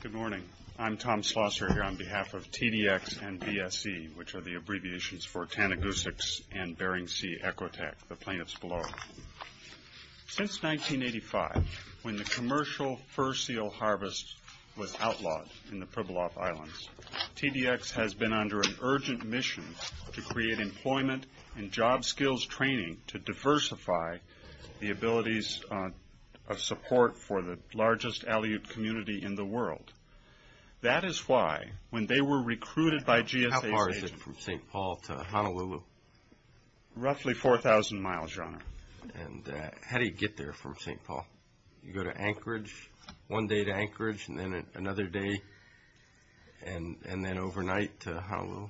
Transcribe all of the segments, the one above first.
Good morning. I'm Tom Slosser here on behalf of TDX and BSE, which are the abbreviations for Tanadgusix and Bering Sea Ecotech, the plaintiffs below. Since 1985, when the commercial fur seal harvest was outlawed in the Pribilof Islands, TDX has been under an urgent mission to create employment and job skills training to diversify the abilities of support for the largest Aleut community in the world. That is why, when they were recruited by GSA's agents... How far is it from St. Paul to Honolulu? Roughly 4,000 miles, Your Honor. And how do you get there from St. Paul? You go to Anchorage, one day to Anchorage, and then another day, and then overnight to Honolulu?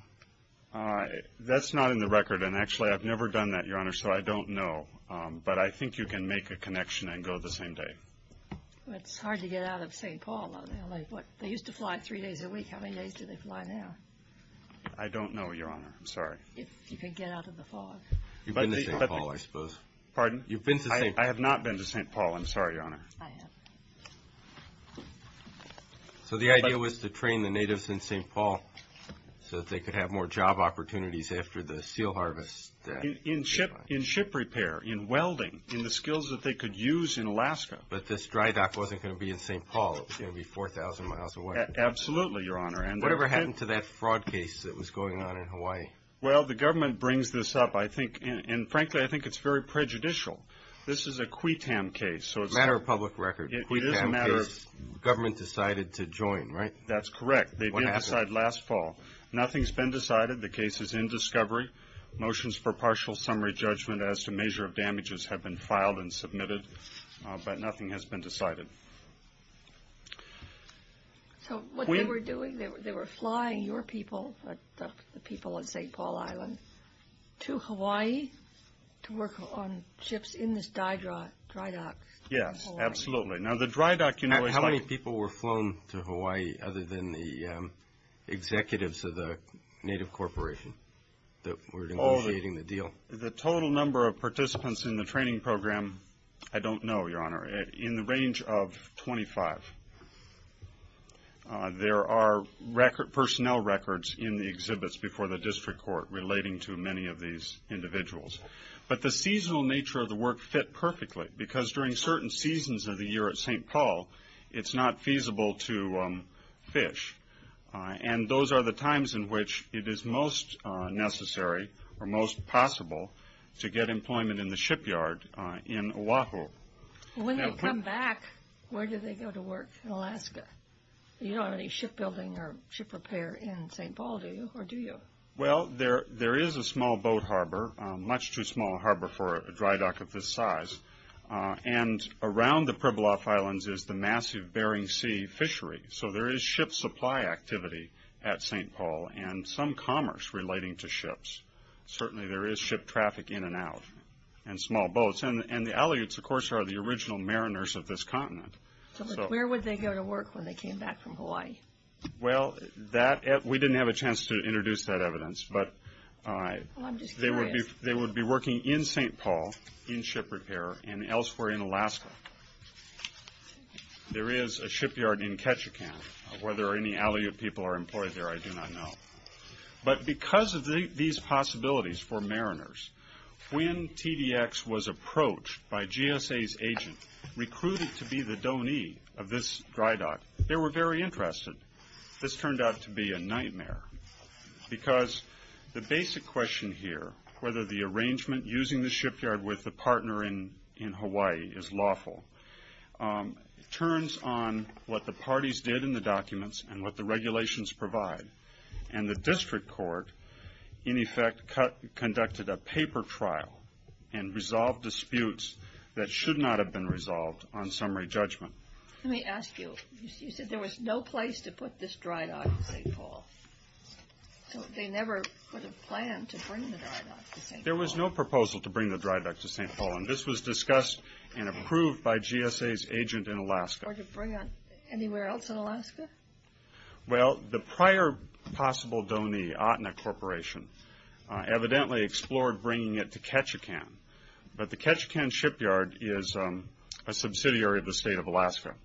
That's not in the record. And actually, I've never done that, Your Honor, so I don't know. But I think you can make a connection and go the same day. It's hard to get out of St. Paul, though. They used to fly three days a week. How many days do they fly now? I don't know, Your Honor. I'm sorry. If you can get out of the fog. You've been to St. Paul, I suppose. Pardon? You've been to St. Paul. I have not been to St. Paul. I'm sorry, Your Honor. I have. So the idea was to train the natives in St. Paul so that they could have more job opportunities after the seal harvest. In ship repair, in welding, in the skills that they could use in Alaska. But this dry dock wasn't going to be in St. Paul. It was going to be 4,000 miles away. Absolutely, Your Honor. Whatever happened to that fraud case that was going on in Hawaii? Well, the government brings this up, and frankly, I think it's very prejudicial. This is a public record. It is a matter of... The government decided to join, right? That's correct. They did decide last fall. Nothing's been decided. The case is in discovery. Motions for partial summary judgment as to measure of damages have been filed and submitted. But nothing has been decided. So what they were doing, they were flying your people, the people of St. Paul Island, to Hawaii to work on ships in this dry dock? Yes, absolutely. Now the dry dock... How many people were flown to Hawaii other than the executives of the native corporation that were negotiating the deal? The total number of participants in the training program, I don't know, Your Honor. In the range of 25. There are personnel records in the exhibits before the district court relating to many of these individuals. But the seasonal nature of the work fit perfectly, because during certain seasons of the year at St. Paul, it's not feasible to fish. And those are the times in which it is most necessary, or most possible, to get employment in the shipyard in Oahu. When they come back, where do they go to work in Alaska? You don't have any shipbuilding or ship repair in St. Paul, do you? Or do you? Well, there is a small boat harbor, much too small a harbor for a dry dock of this size. And around the Pribilof Islands is the massive Bering Sea fishery. So there is ship supply activity at St. Paul, and some commerce relating to ships. Certainly there is ship traffic in and out, and small boats. And the Aleuts, of course, are the original mariners of this continent. So where would they go to work when they came back from Hawaii? Well, we didn't have a chance to introduce that evidence, but they would be working in St. Paul, in ship repair, and elsewhere in Alaska. There is a shipyard in Ketchikan. Whether any Aleut people are employed there, I do not know. But because of these possibilities for mariners, when TDX was approached by GSA's agent, recruited to be the donee of this dry dock, they were very interested. This turned out to be a nightmare, because the basic question here, whether the arrangement using the shipyard with the partner in Hawaii is lawful, turns on what the parties did in the documents and what the regulations provide. And the district court, in effect, conducted a paper trial and resolved disputes that should not have been resolved on summary judgment. Let me ask you. You said there was no place to put this dry dock in St. Paul. So they never would have planned to bring the dry dock to St. Paul. There was no proposal to bring the dry dock to St. Paul, and this was discussed and approved by GSA's agent in Alaska. Or to bring it anywhere else in Alaska? Well, the prior possible donee, Atena Corporation, evidently explored bringing it to Ketchikan. But the Ketchikan shipyard is a subsidiary of the state of Alaska,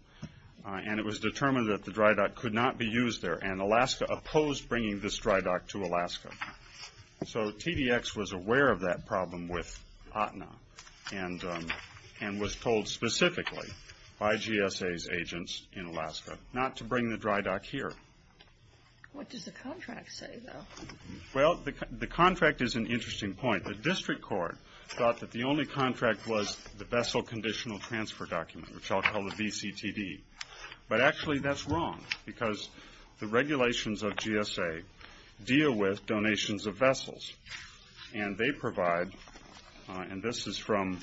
and it was determined that the dry dock could not be used there, and Alaska opposed bringing this dry dock to Alaska. So TDX was aware of that problem with Atena and was told specifically by GSA's agents in Alaska not to bring the dry dock here. What does the contract say, though? Well, the contract is an interesting point. The district court thought that the only contract was the vessel conditional transfer document, which I'll call the VCTD. But actually that's wrong because the regulations of GSA deal with donations of vessels, and they provide, and this is from,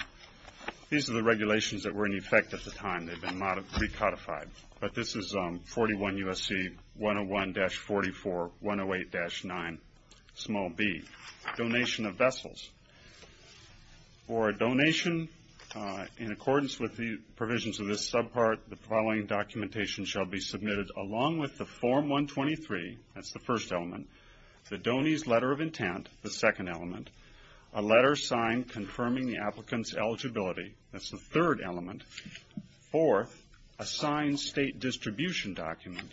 these are the regulations that were in effect at the time. They've been recodified. But this is 41 U.S.C. 101-44-108-9b, Donation of Vessels. For a donation in accordance with the provisions of this subpart, the following documentation shall be submitted along with the Form 123, that's the first element, the Donor's Letter of Intent, the second element, a letter signed confirming the applicant's eligibility, that's the third element, fourth, a signed state distribution document,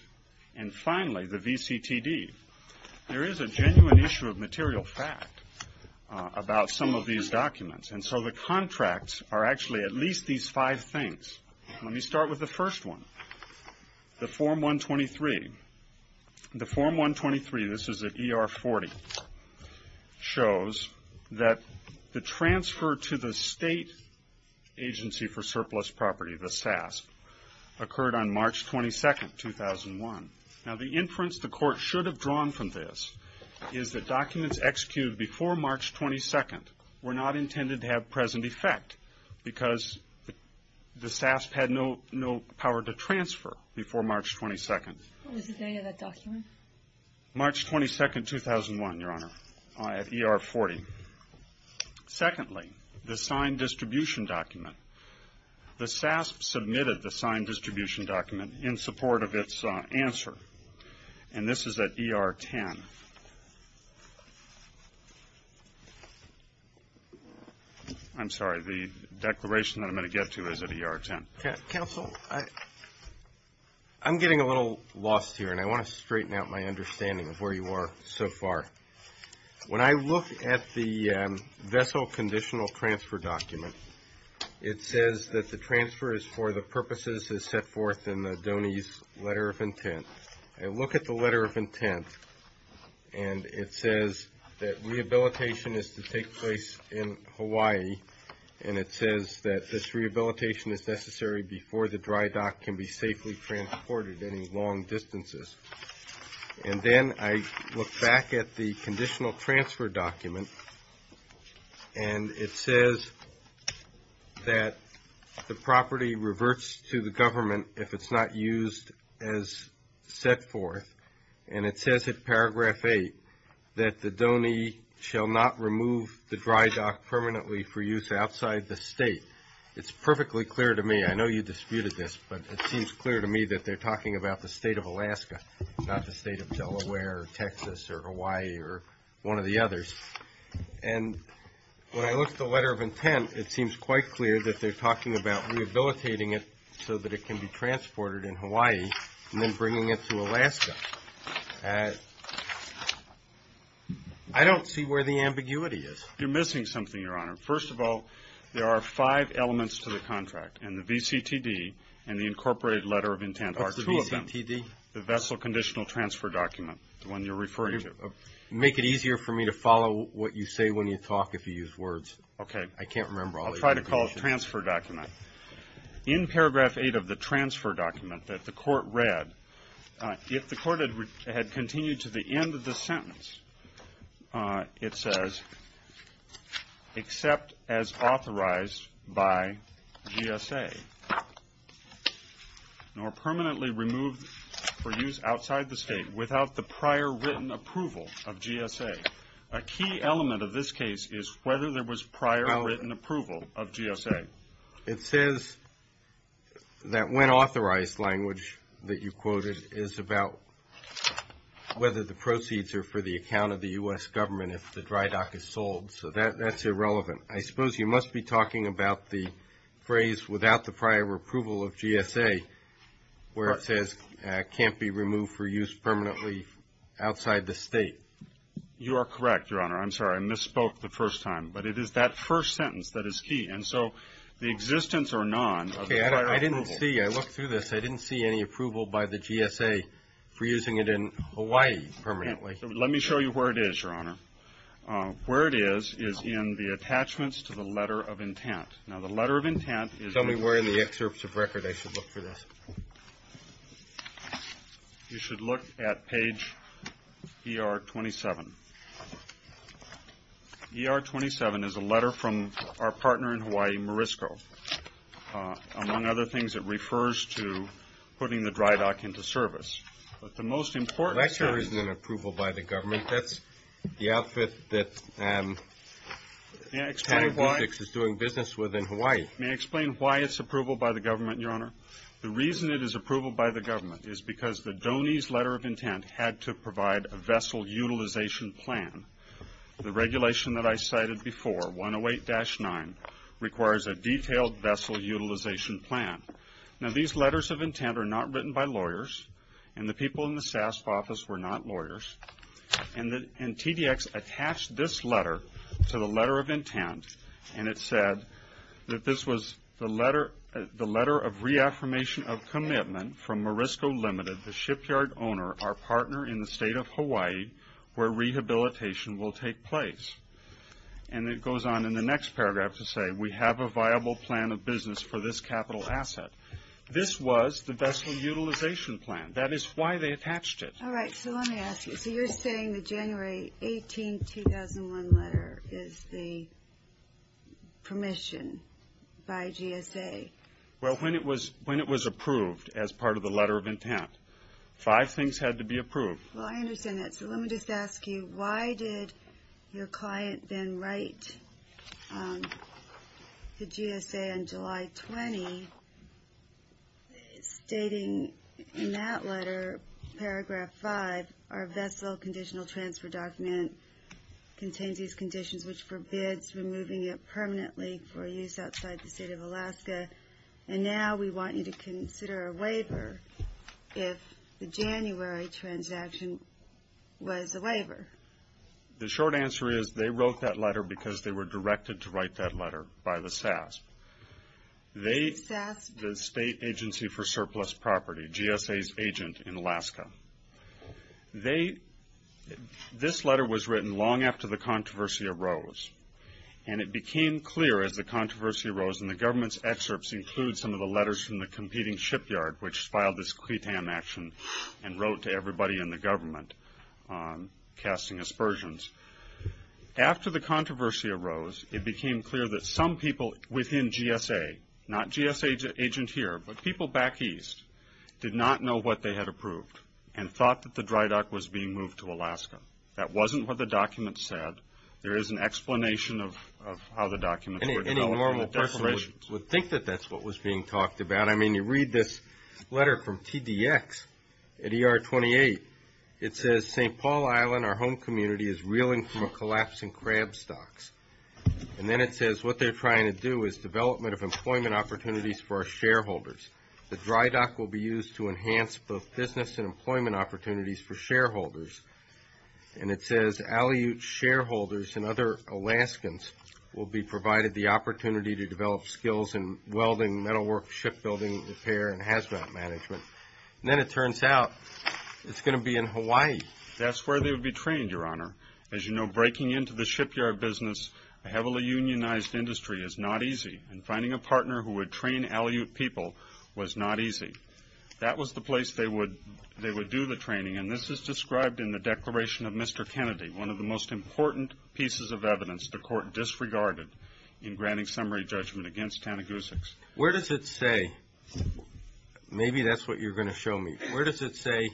and finally the VCTD. There is a genuine issue of material fact about some of these documents, and so the contracts are actually at least these five things. Let me start with the first one, the Form 123. The Form 123, this is at ER 40, shows that the transfer to the State Agency for Surplus Property, the SASP, occurred on March 22, 2001. Now the inference the Court should have drawn from this is that documents executed before March 22 were not intended to have present effect because the SASP had no power to transfer before March 22. What was the date of that document? March 22, 2001, Your Honor, at ER 40. Secondly, the signed distribution document, the SASP submitted the signed distribution document in support of its answer, and this is at ER 10. I'm sorry, the declaration that I'm going to get to is at ER 10. Counsel, I'm getting a little lost here, and I want to straighten out my understanding of where you are so far. When I look at the vessel conditional transfer document, it says that the transfer is for the purposes as set forth in the DONEYS letter of intent. I look at the letter of intent, and it says that rehabilitation is to take place in Hawaii, and it says that this rehabilitation is necessary before the dry dock can be safely transported any long distances. And then I look back at the conditional transfer document, and it says that the property reverts to the government if it's not used as set forth, and it says in paragraph 8 that the DONEY shall not remove the dry dock permanently for use outside the state. It's perfectly clear to me. I know you disputed this, but it seems clear to me that they're talking about the state of Alaska, not the state of Delaware or Texas or Hawaii or one of the others. And when I look at the letter of intent, it seems quite clear that they're talking about rehabilitating it so that it can be transported in Hawaii and then bringing it to Alaska. I don't see where the ambiguity is. You're missing something, Your Honor. First of all, there are five elements to the contract, and the VCTD and the incorporated letter of intent are two of them. What's the VCTD? The vessel conditional transfer document, the one you're referring to. Make it easier for me to follow what you say when you talk if you use words. Okay. I can't remember all the information. I'll try to call it transfer document. In paragraph eight of the transfer document that the court read, if the court had continued to the end of the sentence, it says, except as authorized by GSA, nor permanently removed for use outside the state without the prior written approval of GSA. A key element of this case is whether there was prior written approval of GSA. It says that when authorized language that you quoted is about whether the proceeds are for the account of the U.S. government if the dry dock is sold. So that's irrelevant. I suppose you must be talking about the phrase without the prior approval of GSA, where it says can't be removed for use permanently outside the state. You are correct, Your Honor. I'm sorry. I misspoke the first time. But it is that first sentence that is key. And so the existence or none of the prior approval. Okay. I didn't see. I looked through this. I didn't see any approval by the GSA for using it in Hawaii permanently. Let me show you where it is, Your Honor. Where it is is in the attachments to the letter of intent. Now, the letter of intent is. If somebody were in the excerpts of record, I should look for this. You should look at page ER27. ER27 is a letter from our partner in Hawaii, Morisco. Among other things, it refers to putting the dry dock into service. But the most important. That sure isn't an approval by the government. I think that's the outfit that. May I explain why it's approval by the government, Your Honor? The reason it is approval by the government is because the DONY's letter of intent had to provide a vessel utilization plan. The regulation that I cited before, 108-9, requires a detailed vessel utilization plan. And the people in the SASP office were not lawyers. And TDX attached this letter to the letter of intent, and it said that this was the letter of reaffirmation of commitment from Morisco Limited, the shipyard owner, our partner in the state of Hawaii, where rehabilitation will take place. And it goes on in the next paragraph to say, we have a viable plan of business for this capital asset. This was the vessel utilization plan. That is why they attached it. All right. So let me ask you. So you're saying the January 18, 2001 letter is the permission by GSA? Well, when it was approved as part of the letter of intent, five things had to be approved. Well, I understand that. So let me just ask you, why did your client then write to GSA on July 20 stating in that letter, paragraph 5, our vessel conditional transfer document contains these conditions, which forbids removing it permanently for use outside the state of Alaska, and now we want you to consider a waiver if the January transaction was a waiver? The short answer is they wrote that letter because they were directed to write that letter by the SAS, the State Agency for Surplus Property, GSA's agent in Alaska. This letter was written long after the controversy arose, and it became clear as the controversy arose, and the government's excerpts include some of the letters from the competing shipyard, which filed this CRETAM action and wrote to everybody in the government casting aspersions. After the controversy arose, it became clear that some people within GSA, not GSA's agent here, but people back east, did not know what they had approved and thought that the dry dock was being moved to Alaska. That wasn't what the document said. There is an explanation of how the documents were developed. Any normal person would think that that's what was being talked about. I mean, you read this letter from TDX at ER 28. It says, St. Paul Island, our home community, is reeling from a collapse in crab stocks. And then it says what they're trying to do is development of employment opportunities for our shareholders. The dry dock will be used to enhance both business and employment opportunities for shareholders. And it says Aleut shareholders and other Alaskans will be provided the opportunity to develop skills in welding, metalwork, shipbuilding, repair, and hazmat management. And then it turns out it's going to be in Hawaii. That's where they would be trained, Your Honor. As you know, breaking into the shipyard business, a heavily unionized industry, is not easy, and finding a partner who would train Aleut people was not easy. That was the place they would do the training, and this is described in the Declaration of Mr. Kennedy, one of the most important pieces of evidence the court disregarded in granting summary judgment against Tanagusics. Where does it say, maybe that's what you're going to show me, where does it say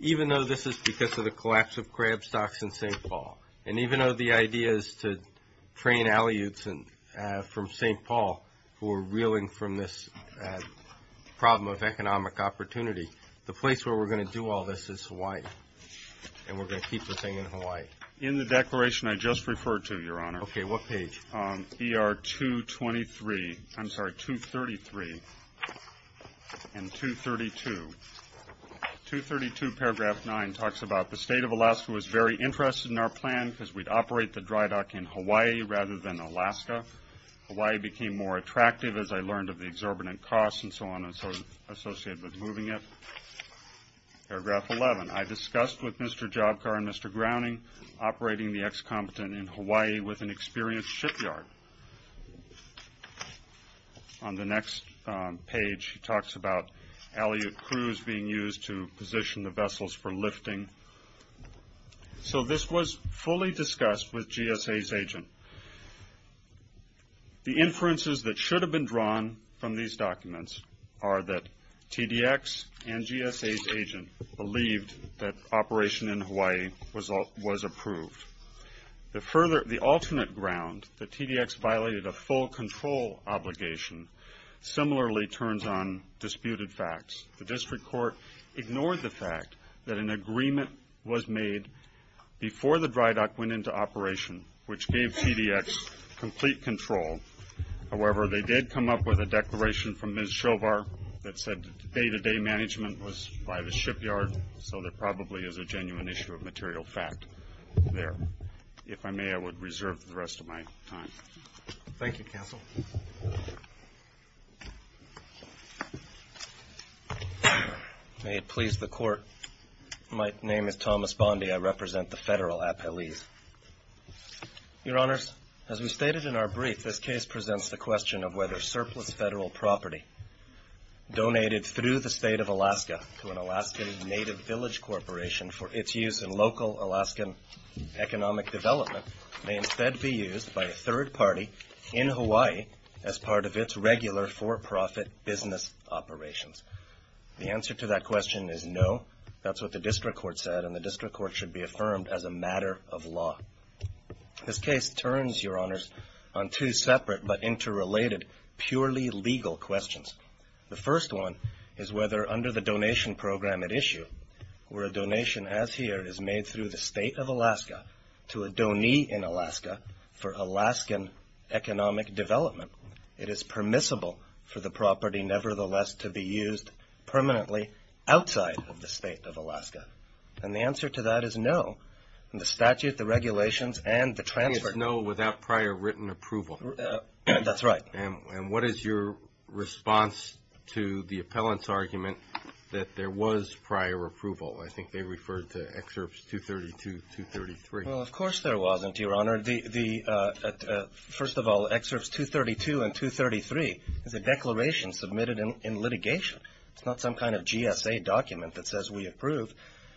even though this is because of the collapse of crab stocks in St. Paul, and even though the idea is to train Aleuts from St. Paul who are reeling from this problem of economic opportunity, the place where we're going to do all this is Hawaii, and we're going to keep the thing in Hawaii? In the declaration I just referred to, Your Honor. Okay, what page? ER 223, I'm sorry, 233 and 232. 232 paragraph 9 talks about the state of Alaska was very interested in our plan because we'd operate the dry dock in Hawaii rather than Alaska. Hawaii became more attractive as I learned of the exorbitant costs and so on associated with moving it. Paragraph 11, I discussed with Mr. Jobcar and Mr. Growning, operating the excompetent in Hawaii with an experienced shipyard. On the next page he talks about Aleut crews being used to position the vessels for lifting. So this was fully discussed with GSA's agent. The inferences that should have been drawn from these documents are that TDX and GSA's agent believed that operation in Hawaii was approved. The alternate ground, that TDX violated a full control obligation, similarly turns on disputed facts. The district court ignored the fact that an agreement was made before the dry dock went into operation, which gave TDX complete control. However, they did come up with a declaration from Ms. Jobar that said day-to-day management was by the shipyard, so there probably is a genuine issue of material fact there. If I may, I would reserve the rest of my time. Thank you, Counsel. May it please the Court, my name is Thomas Bondi. I represent the federal appellees. Your Honors, as we stated in our brief, this case presents the question of whether surplus federal property donated through the State of Alaska to an Alaskan native village corporation for its use in local Alaskan economic development may instead be used by a third party in Hawaii as part of its regular for-profit business operations. The answer to that question is no. That's what the district court said, and the district court should be affirmed as a matter of law. This case turns, Your Honors, on two separate but interrelated purely legal questions. The first one is whether under the donation program at issue, where a donation as here is made through the State of Alaska to a donee in Alaska for Alaskan economic development, it is permissible for the property nevertheless to be used permanently outside of the State of Alaska. And the answer to that is no. In the statute, the regulations, and the transfer. It's no without prior written approval. That's right. And what is your response to the appellant's argument that there was prior approval? I think they referred to Excerpts 232 and 233. Well, of course there wasn't, Your Honor. First of all, Excerpts 232 and 233 is a declaration submitted in litigation. It's not some kind of GSA document that says we approve.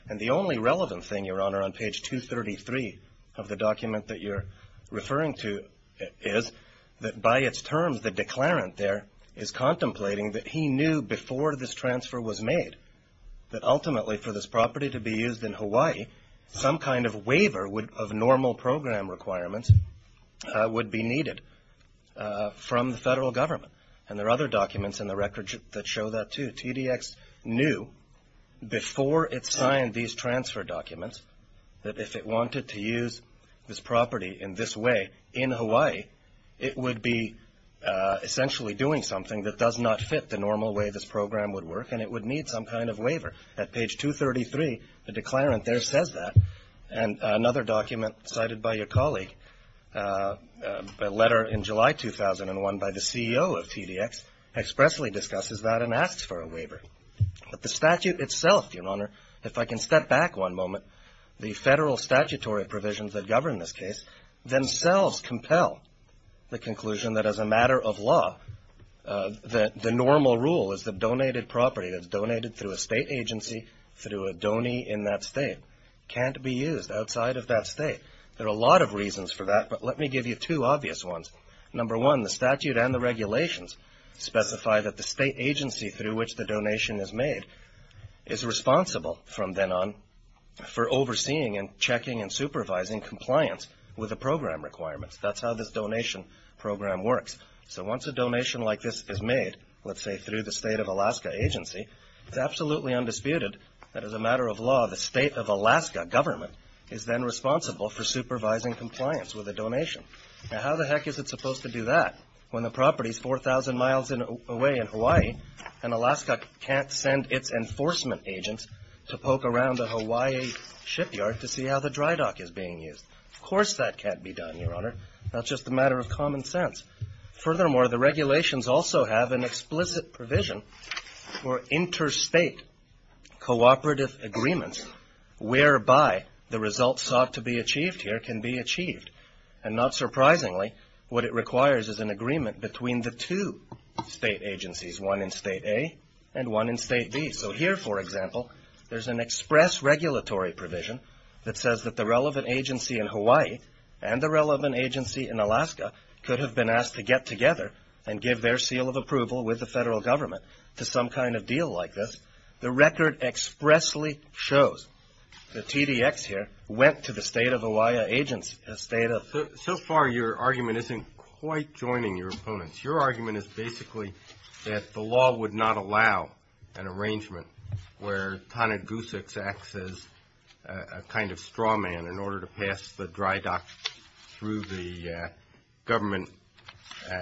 And the only relevant thing, Your Honor, on page 233 of the document that you're referring to is that by its terms, the declarant there is contemplating that he knew before this transfer was made that ultimately for this property to be used in Hawaii, some kind of waiver of normal program requirements would be needed from the federal government. And there are other documents in the record that show that, too. TDX knew before it signed these transfer documents that if it wanted to use this property in this way in Hawaii, it would be essentially doing something that does not fit the normal way this program would work, and it would need some kind of waiver. At page 233, the declarant there says that. And another document cited by your colleague, a letter in July 2001 by the CEO of TDX, expressly discusses that and asks for a waiver. But the statute itself, Your Honor, if I can step back one moment, the federal statutory provisions that govern this case themselves compel the conclusion that as a matter of law, the normal rule is that donated property that's donated through a state agency, through a donee in that state, can't be used outside of that state. There are a lot of reasons for that, but let me give you two obvious ones. Number one, the statute and the regulations specify that the state agency through which the donation is made is responsible from then on for overseeing and checking and supervising compliance with the program requirements. That's how this donation program works. So once a donation like this is made, let's say through the state of Alaska agency, it's absolutely undisputed that as a matter of law, the state of Alaska government is then responsible for supervising compliance with the donation. Now how the heck is it supposed to do that when the property is 4,000 miles away in Hawaii and Alaska can't send its enforcement agents to poke around the Hawaii shipyard to see how the dry dock is being used? Of course that can't be done, Your Honor. That's just a matter of common sense. Furthermore, the regulations also have an explicit provision for interstate cooperative agreements whereby the results sought to be achieved here can be achieved and not surprisingly what it requires is an agreement between the two state agencies, one in state A and one in state B. So here, for example, there's an express regulatory provision that says that the relevant agency in Hawaii and the relevant agency in Alaska could have been asked to get together and give their seal of approval with the federal government to some kind of deal like this. The record expressly shows the TDX here went to the state of Hawaii agency. So far your argument isn't quite joining your opponents. Your argument is basically that the law would not allow an arrangement where Ta-Nehisi acts as a kind of straw man in order to pass the dry dock through the government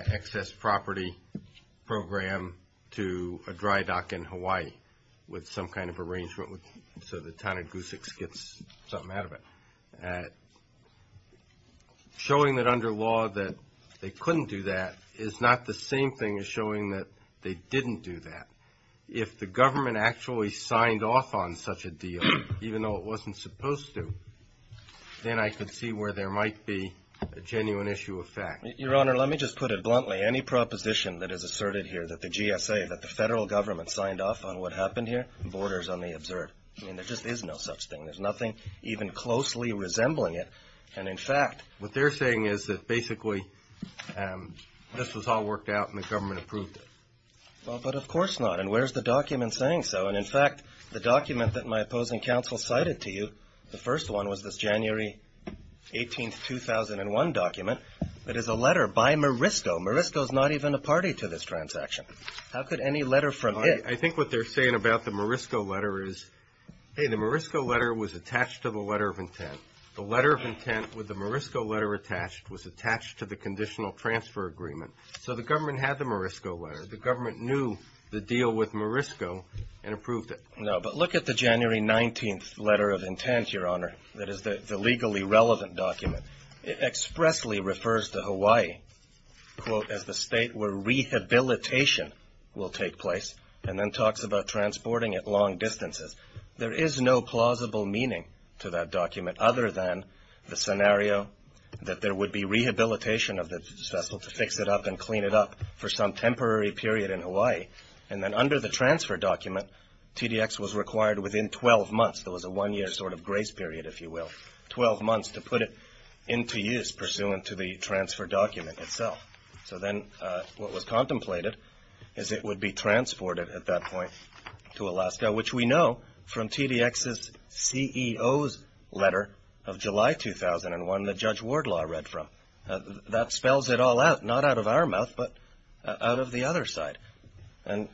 excess property program to a dry dock in Hawaii with some kind of arrangement so that Ta-Nehisi gets something out of it. Showing that under law that they couldn't do that is not the same thing as showing that they didn't do that. If the government actually signed off on such a deal, even though it wasn't supposed to, then I could see where there might be a genuine issue of fact. Your Honor, let me just put it bluntly. Any proposition that is asserted here that the GSA, that the federal government signed off on what happened here, borders on the observed. I mean, there just is no such thing. There's nothing even closely resembling it. And in fact, what they're saying is that basically this was all worked out and the government approved it. Well, but of course not. And where's the document saying so? And in fact, the document that my opposing counsel cited to you, the first one was this January 18, 2001 document. It is a letter by Morisco. Morisco's not even a party to this transaction. How could any letter from it? I think what they're saying about the Morisco letter is, hey, the Morisco letter was attached to the letter of intent. The letter of intent with the Morisco letter attached was attached to the conditional transfer agreement. So the government had the Morisco letter. The government knew the deal with Morisco and approved it. No, but look at the January 19 letter of intent, Your Honor, that is the legally relevant document. It expressly refers to Hawaii, quote, as the state where rehabilitation will take place and then talks about transporting it long distances. There is no plausible meaning to that document other than the scenario that there would be rehabilitation of this vessel to fix it up and clean it up for some temporary period in Hawaii. And then under the transfer document, TDX was required within 12 months. There was a one-year sort of grace period, if you will, 12 months to put it into use pursuant to the transfer document itself. So then what was contemplated is it would be transported at that point to Alaska, which we know from TDX's CEO's letter of July 2001 that Judge Wardlaw read from. That spells it all out, not out of our mouth, but out of the other side. And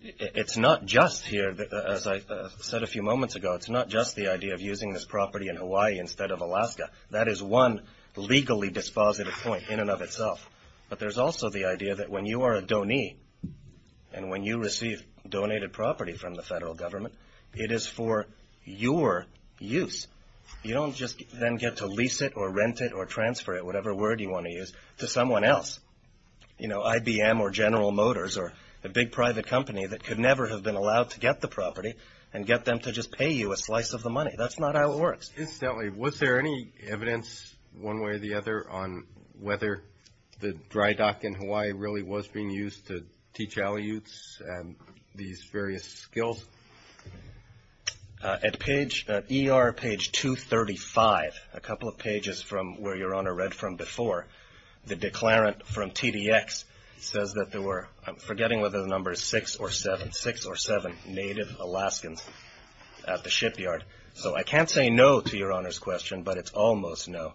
it's not just here, as I said a few moments ago, it's not just the idea of using this property in Hawaii instead of Alaska. That is one legally dispositive point in and of itself. But there's also the idea that when you are a donee and when you receive donated property from the federal government, it is for your use. You don't just then get to lease it or rent it or transfer it, whatever word you want to use, to someone else. You know, IBM or General Motors or a big private company that could never have been allowed to get the property and get them to just pay you a slice of the money. That's not how it works. Incidentally, was there any evidence one way or the other on whether the dry dock in Hawaii really was being used to teach Aleuts these various skills? At ER page 235, a couple of pages from where Your Honor read from before, the declarant from TDX says that there were, I'm forgetting whether the number is 6 or 7, 6 or 7 native Alaskans at the shipyard. So I can't say no to Your Honor's question, but it's almost no.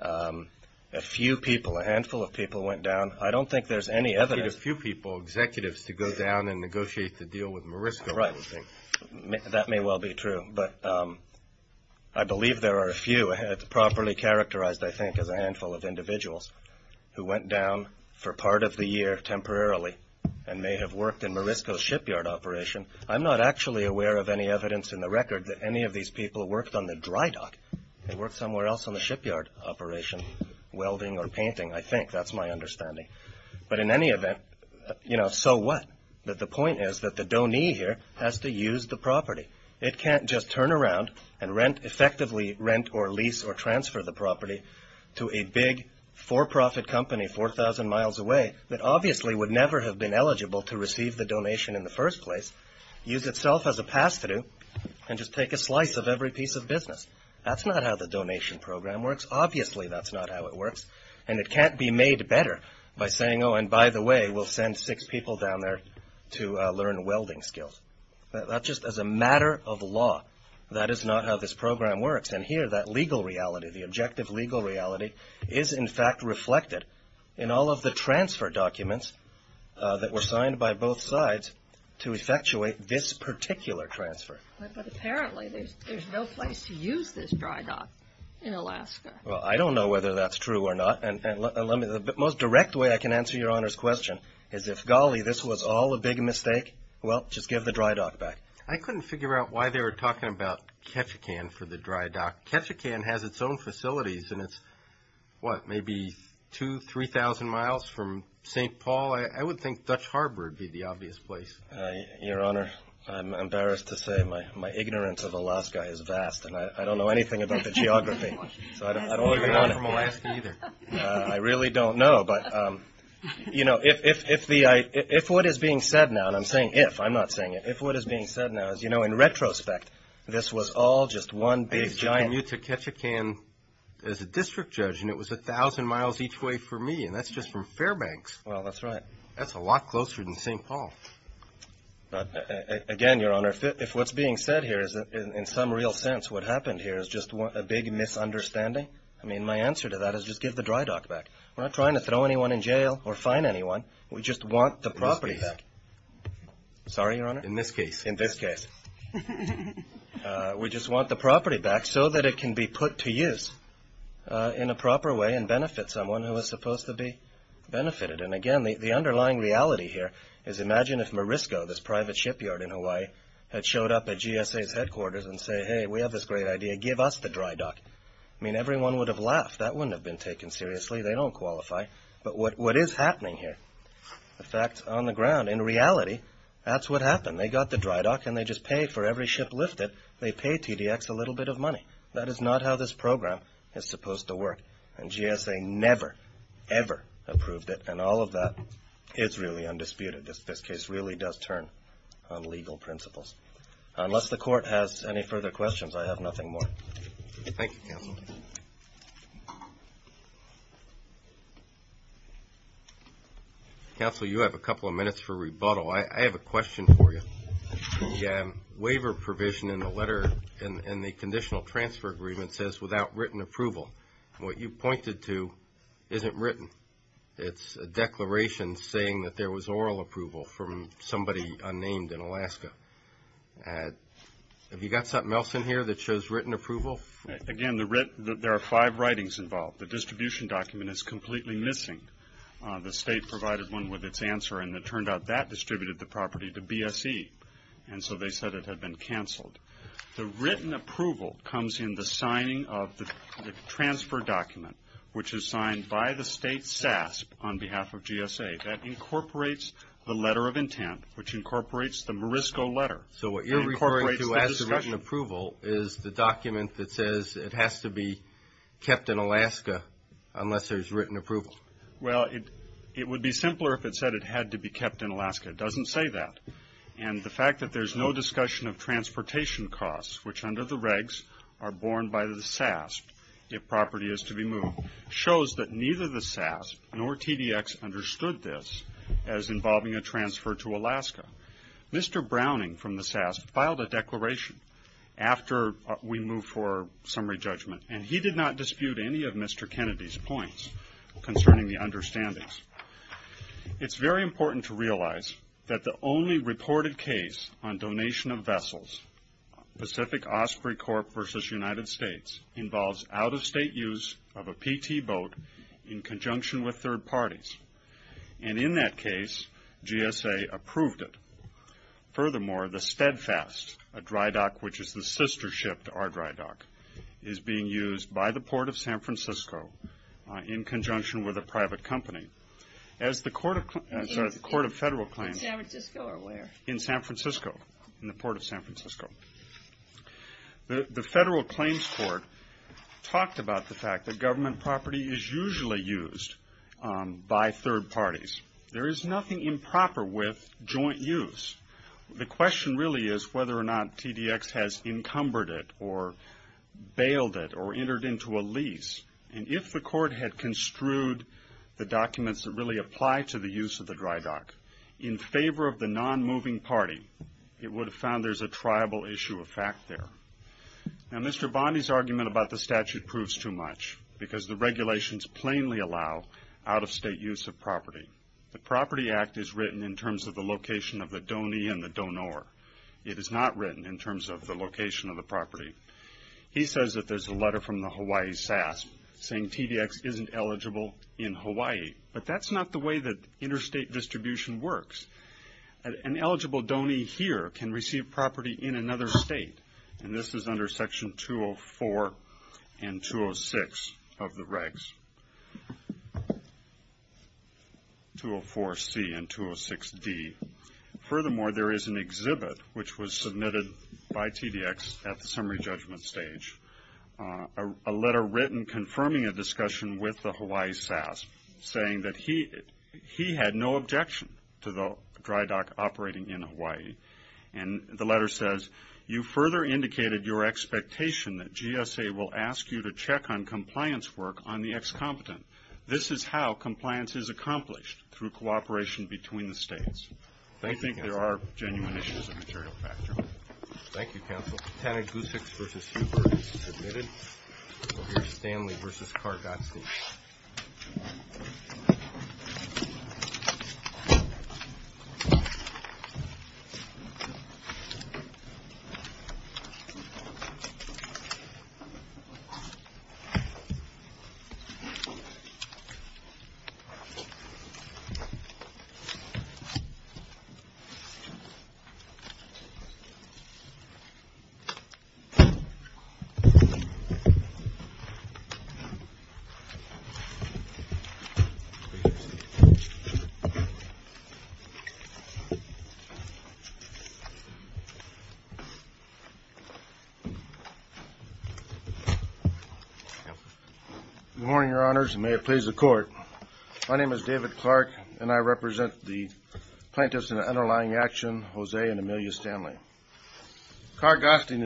A few people, a handful of people went down. I don't think there's any evidence. You need a few people, executives, to go down and negotiate the deal with Morisco, I would think. Right. That may well be true, but I believe there are a few. It's properly characterized, I think, as a handful of individuals who went down for part of the year temporarily and may have worked in Morisco's shipyard operation. I'm not actually aware of any evidence in the record that any of these people worked on the dry dock. They worked somewhere else on the shipyard operation, welding or painting, I think. That's my understanding. But in any event, you know, so what? The point is that the donee here has to use the property. It can't just turn around and rent, effectively rent or lease or transfer the property to a big for-profit company 4,000 miles away that obviously would never have been eligible to receive the donation in the first place, use itself as a pass-through, and just take a slice of every piece of business. That's not how the donation program works. Obviously, that's not how it works. And it can't be made better by saying, oh, and by the way, we'll send six people down there to learn welding skills. That's just as a matter of law. That is not how this program works. And here, that legal reality, the objective legal reality is, in fact, reflected in all of the transfer documents that were signed by both sides to effectuate this particular transfer. But apparently, there's no place to use this dry dock in Alaska. Well, I don't know whether that's true or not. And the most direct way I can answer Your Honor's question is if, golly, this was all a big mistake, well, just give the dry dock back. I couldn't figure out why they were talking about Ketchikan for the dry dock. Ketchikan has its own facilities, and it's, what, maybe 2,000, 3,000 miles from St. Paul. I would think Dutch Harbor would be the obvious place. Your Honor, I'm embarrassed to say my ignorance of Alaska is vast, and I don't know anything about the geography. So I don't even want to. I'm not from Alaska either. I really don't know. But, you know, if what is being said now, and I'm saying if, I'm not saying it. If what is being said now is, you know, in retrospect, this was all just one big giant. I used to commute to Ketchikan as a district judge, and it was 1,000 miles each way for me, and that's just from Fairbanks. Well, that's right. That's a lot closer than St. Paul. Again, Your Honor, if what's being said here is, in some real sense, what happened here is just a big misunderstanding, I mean, my answer to that is just give the dry dock back. We're not trying to throw anyone in jail or fine anyone. We just want the property back. In this case. Sorry, Your Honor? In this case. In this case. We just want the property back so that it can be put to use in a proper way and benefit someone who is supposed to be benefited. And, again, the underlying reality here is imagine if Morisco, this private shipyard in Hawaii, had showed up at GSA's headquarters and said, hey, we have this great idea. Give us the dry dock. I mean, everyone would have laughed. That wouldn't have been taken seriously. They don't qualify. But what is happening here, the fact on the ground, in reality, that's what happened. They got the dry dock, and they just paid for every ship lifted. They paid TDX a little bit of money. That is not how this program is supposed to work, and GSA never, ever approved it. And all of that is really undisputed. This case really does turn on legal principles. Unless the court has any further questions, I have nothing more. Thank you, counsel. Counsel, you have a couple of minutes for rebuttal. I have a question for you. The waiver provision in the letter in the conditional transfer agreement says without written approval. What you pointed to isn't written. It's a declaration saying that there was oral approval from somebody unnamed in Alaska. Have you got something else in here that shows written approval? Again, there are five writings involved. The distribution document is completely missing. The state provided one with its answer, and it turned out that distributed the property to BSE, and so they said it had been canceled. The written approval comes in the signing of the transfer document, which is signed by the state SASB on behalf of GSA. That incorporates the letter of intent, which incorporates the Morisco letter. So what you're referring to as the written approval is the document that says it has to be kept in Alaska unless there's written approval. Well, it would be simpler if it said it had to be kept in Alaska. It doesn't say that. And the fact that there's no discussion of transportation costs, which under the regs are borne by the SASB if property is to be moved, shows that neither the SASB nor TDX understood this as involving a transfer to Alaska. Mr. Browning from the SASB filed a declaration after we moved for summary judgment, and he did not dispute any of Mr. Kennedy's points concerning the understandings. It's very important to realize that the only reported case on donation of vessels, Pacific Osprey Corp. versus United States, involves out-of-state use of a PT boat in conjunction with third parties. And in that case, GSA approved it. Furthermore, the Steadfast, a dry dock which is the sister ship to our dry dock, is being used by the Port of San Francisco in conjunction with a private company. As the Court of Federal Claims. In San Francisco or where? In San Francisco, in the Port of San Francisco. The Federal Claims Court talked about the fact that government property is usually used by third parties. There is nothing improper with joint use. The question really is whether or not TDX has encumbered it or bailed it or entered into a lease. And if the Court had construed the documents that really apply to the use of the dry dock, in favor of the non-moving party, it would have found there's a triable issue of fact there. Now, Mr. Bondi's argument about the statute proves too much because the regulations plainly allow out-of-state use of property. The Property Act is written in terms of the location of the donee and the donor. It is not written in terms of the location of the property. He says that there's a letter from the Hawaii SAS saying TDX isn't eligible in Hawaii, but that's not the way that interstate distribution works. An eligible donee here can receive property in another state, and this is under Section 204 and 206 of the regs, 204C and 206D. Furthermore, there is an exhibit which was submitted by TDX at the summary judgment stage, a letter written confirming a discussion with the Hawaii SAS, saying that he had no objection to the dry dock operating in Hawaii. And the letter says, you further indicated your expectation that GSA will ask you to check on compliance work on the ex-competent. This is how compliance is accomplished, through cooperation between the states. I think there are genuine issues of material factor. Thank you, counsel. Tana Guseks v. Huber is submitted. We'll hear Stanley v. Carr. Good morning, Your Honors, and may it please the Court. My name is David Clark, and I represent the plaintiffs in the underlying action, Jose and Amelia Stanley.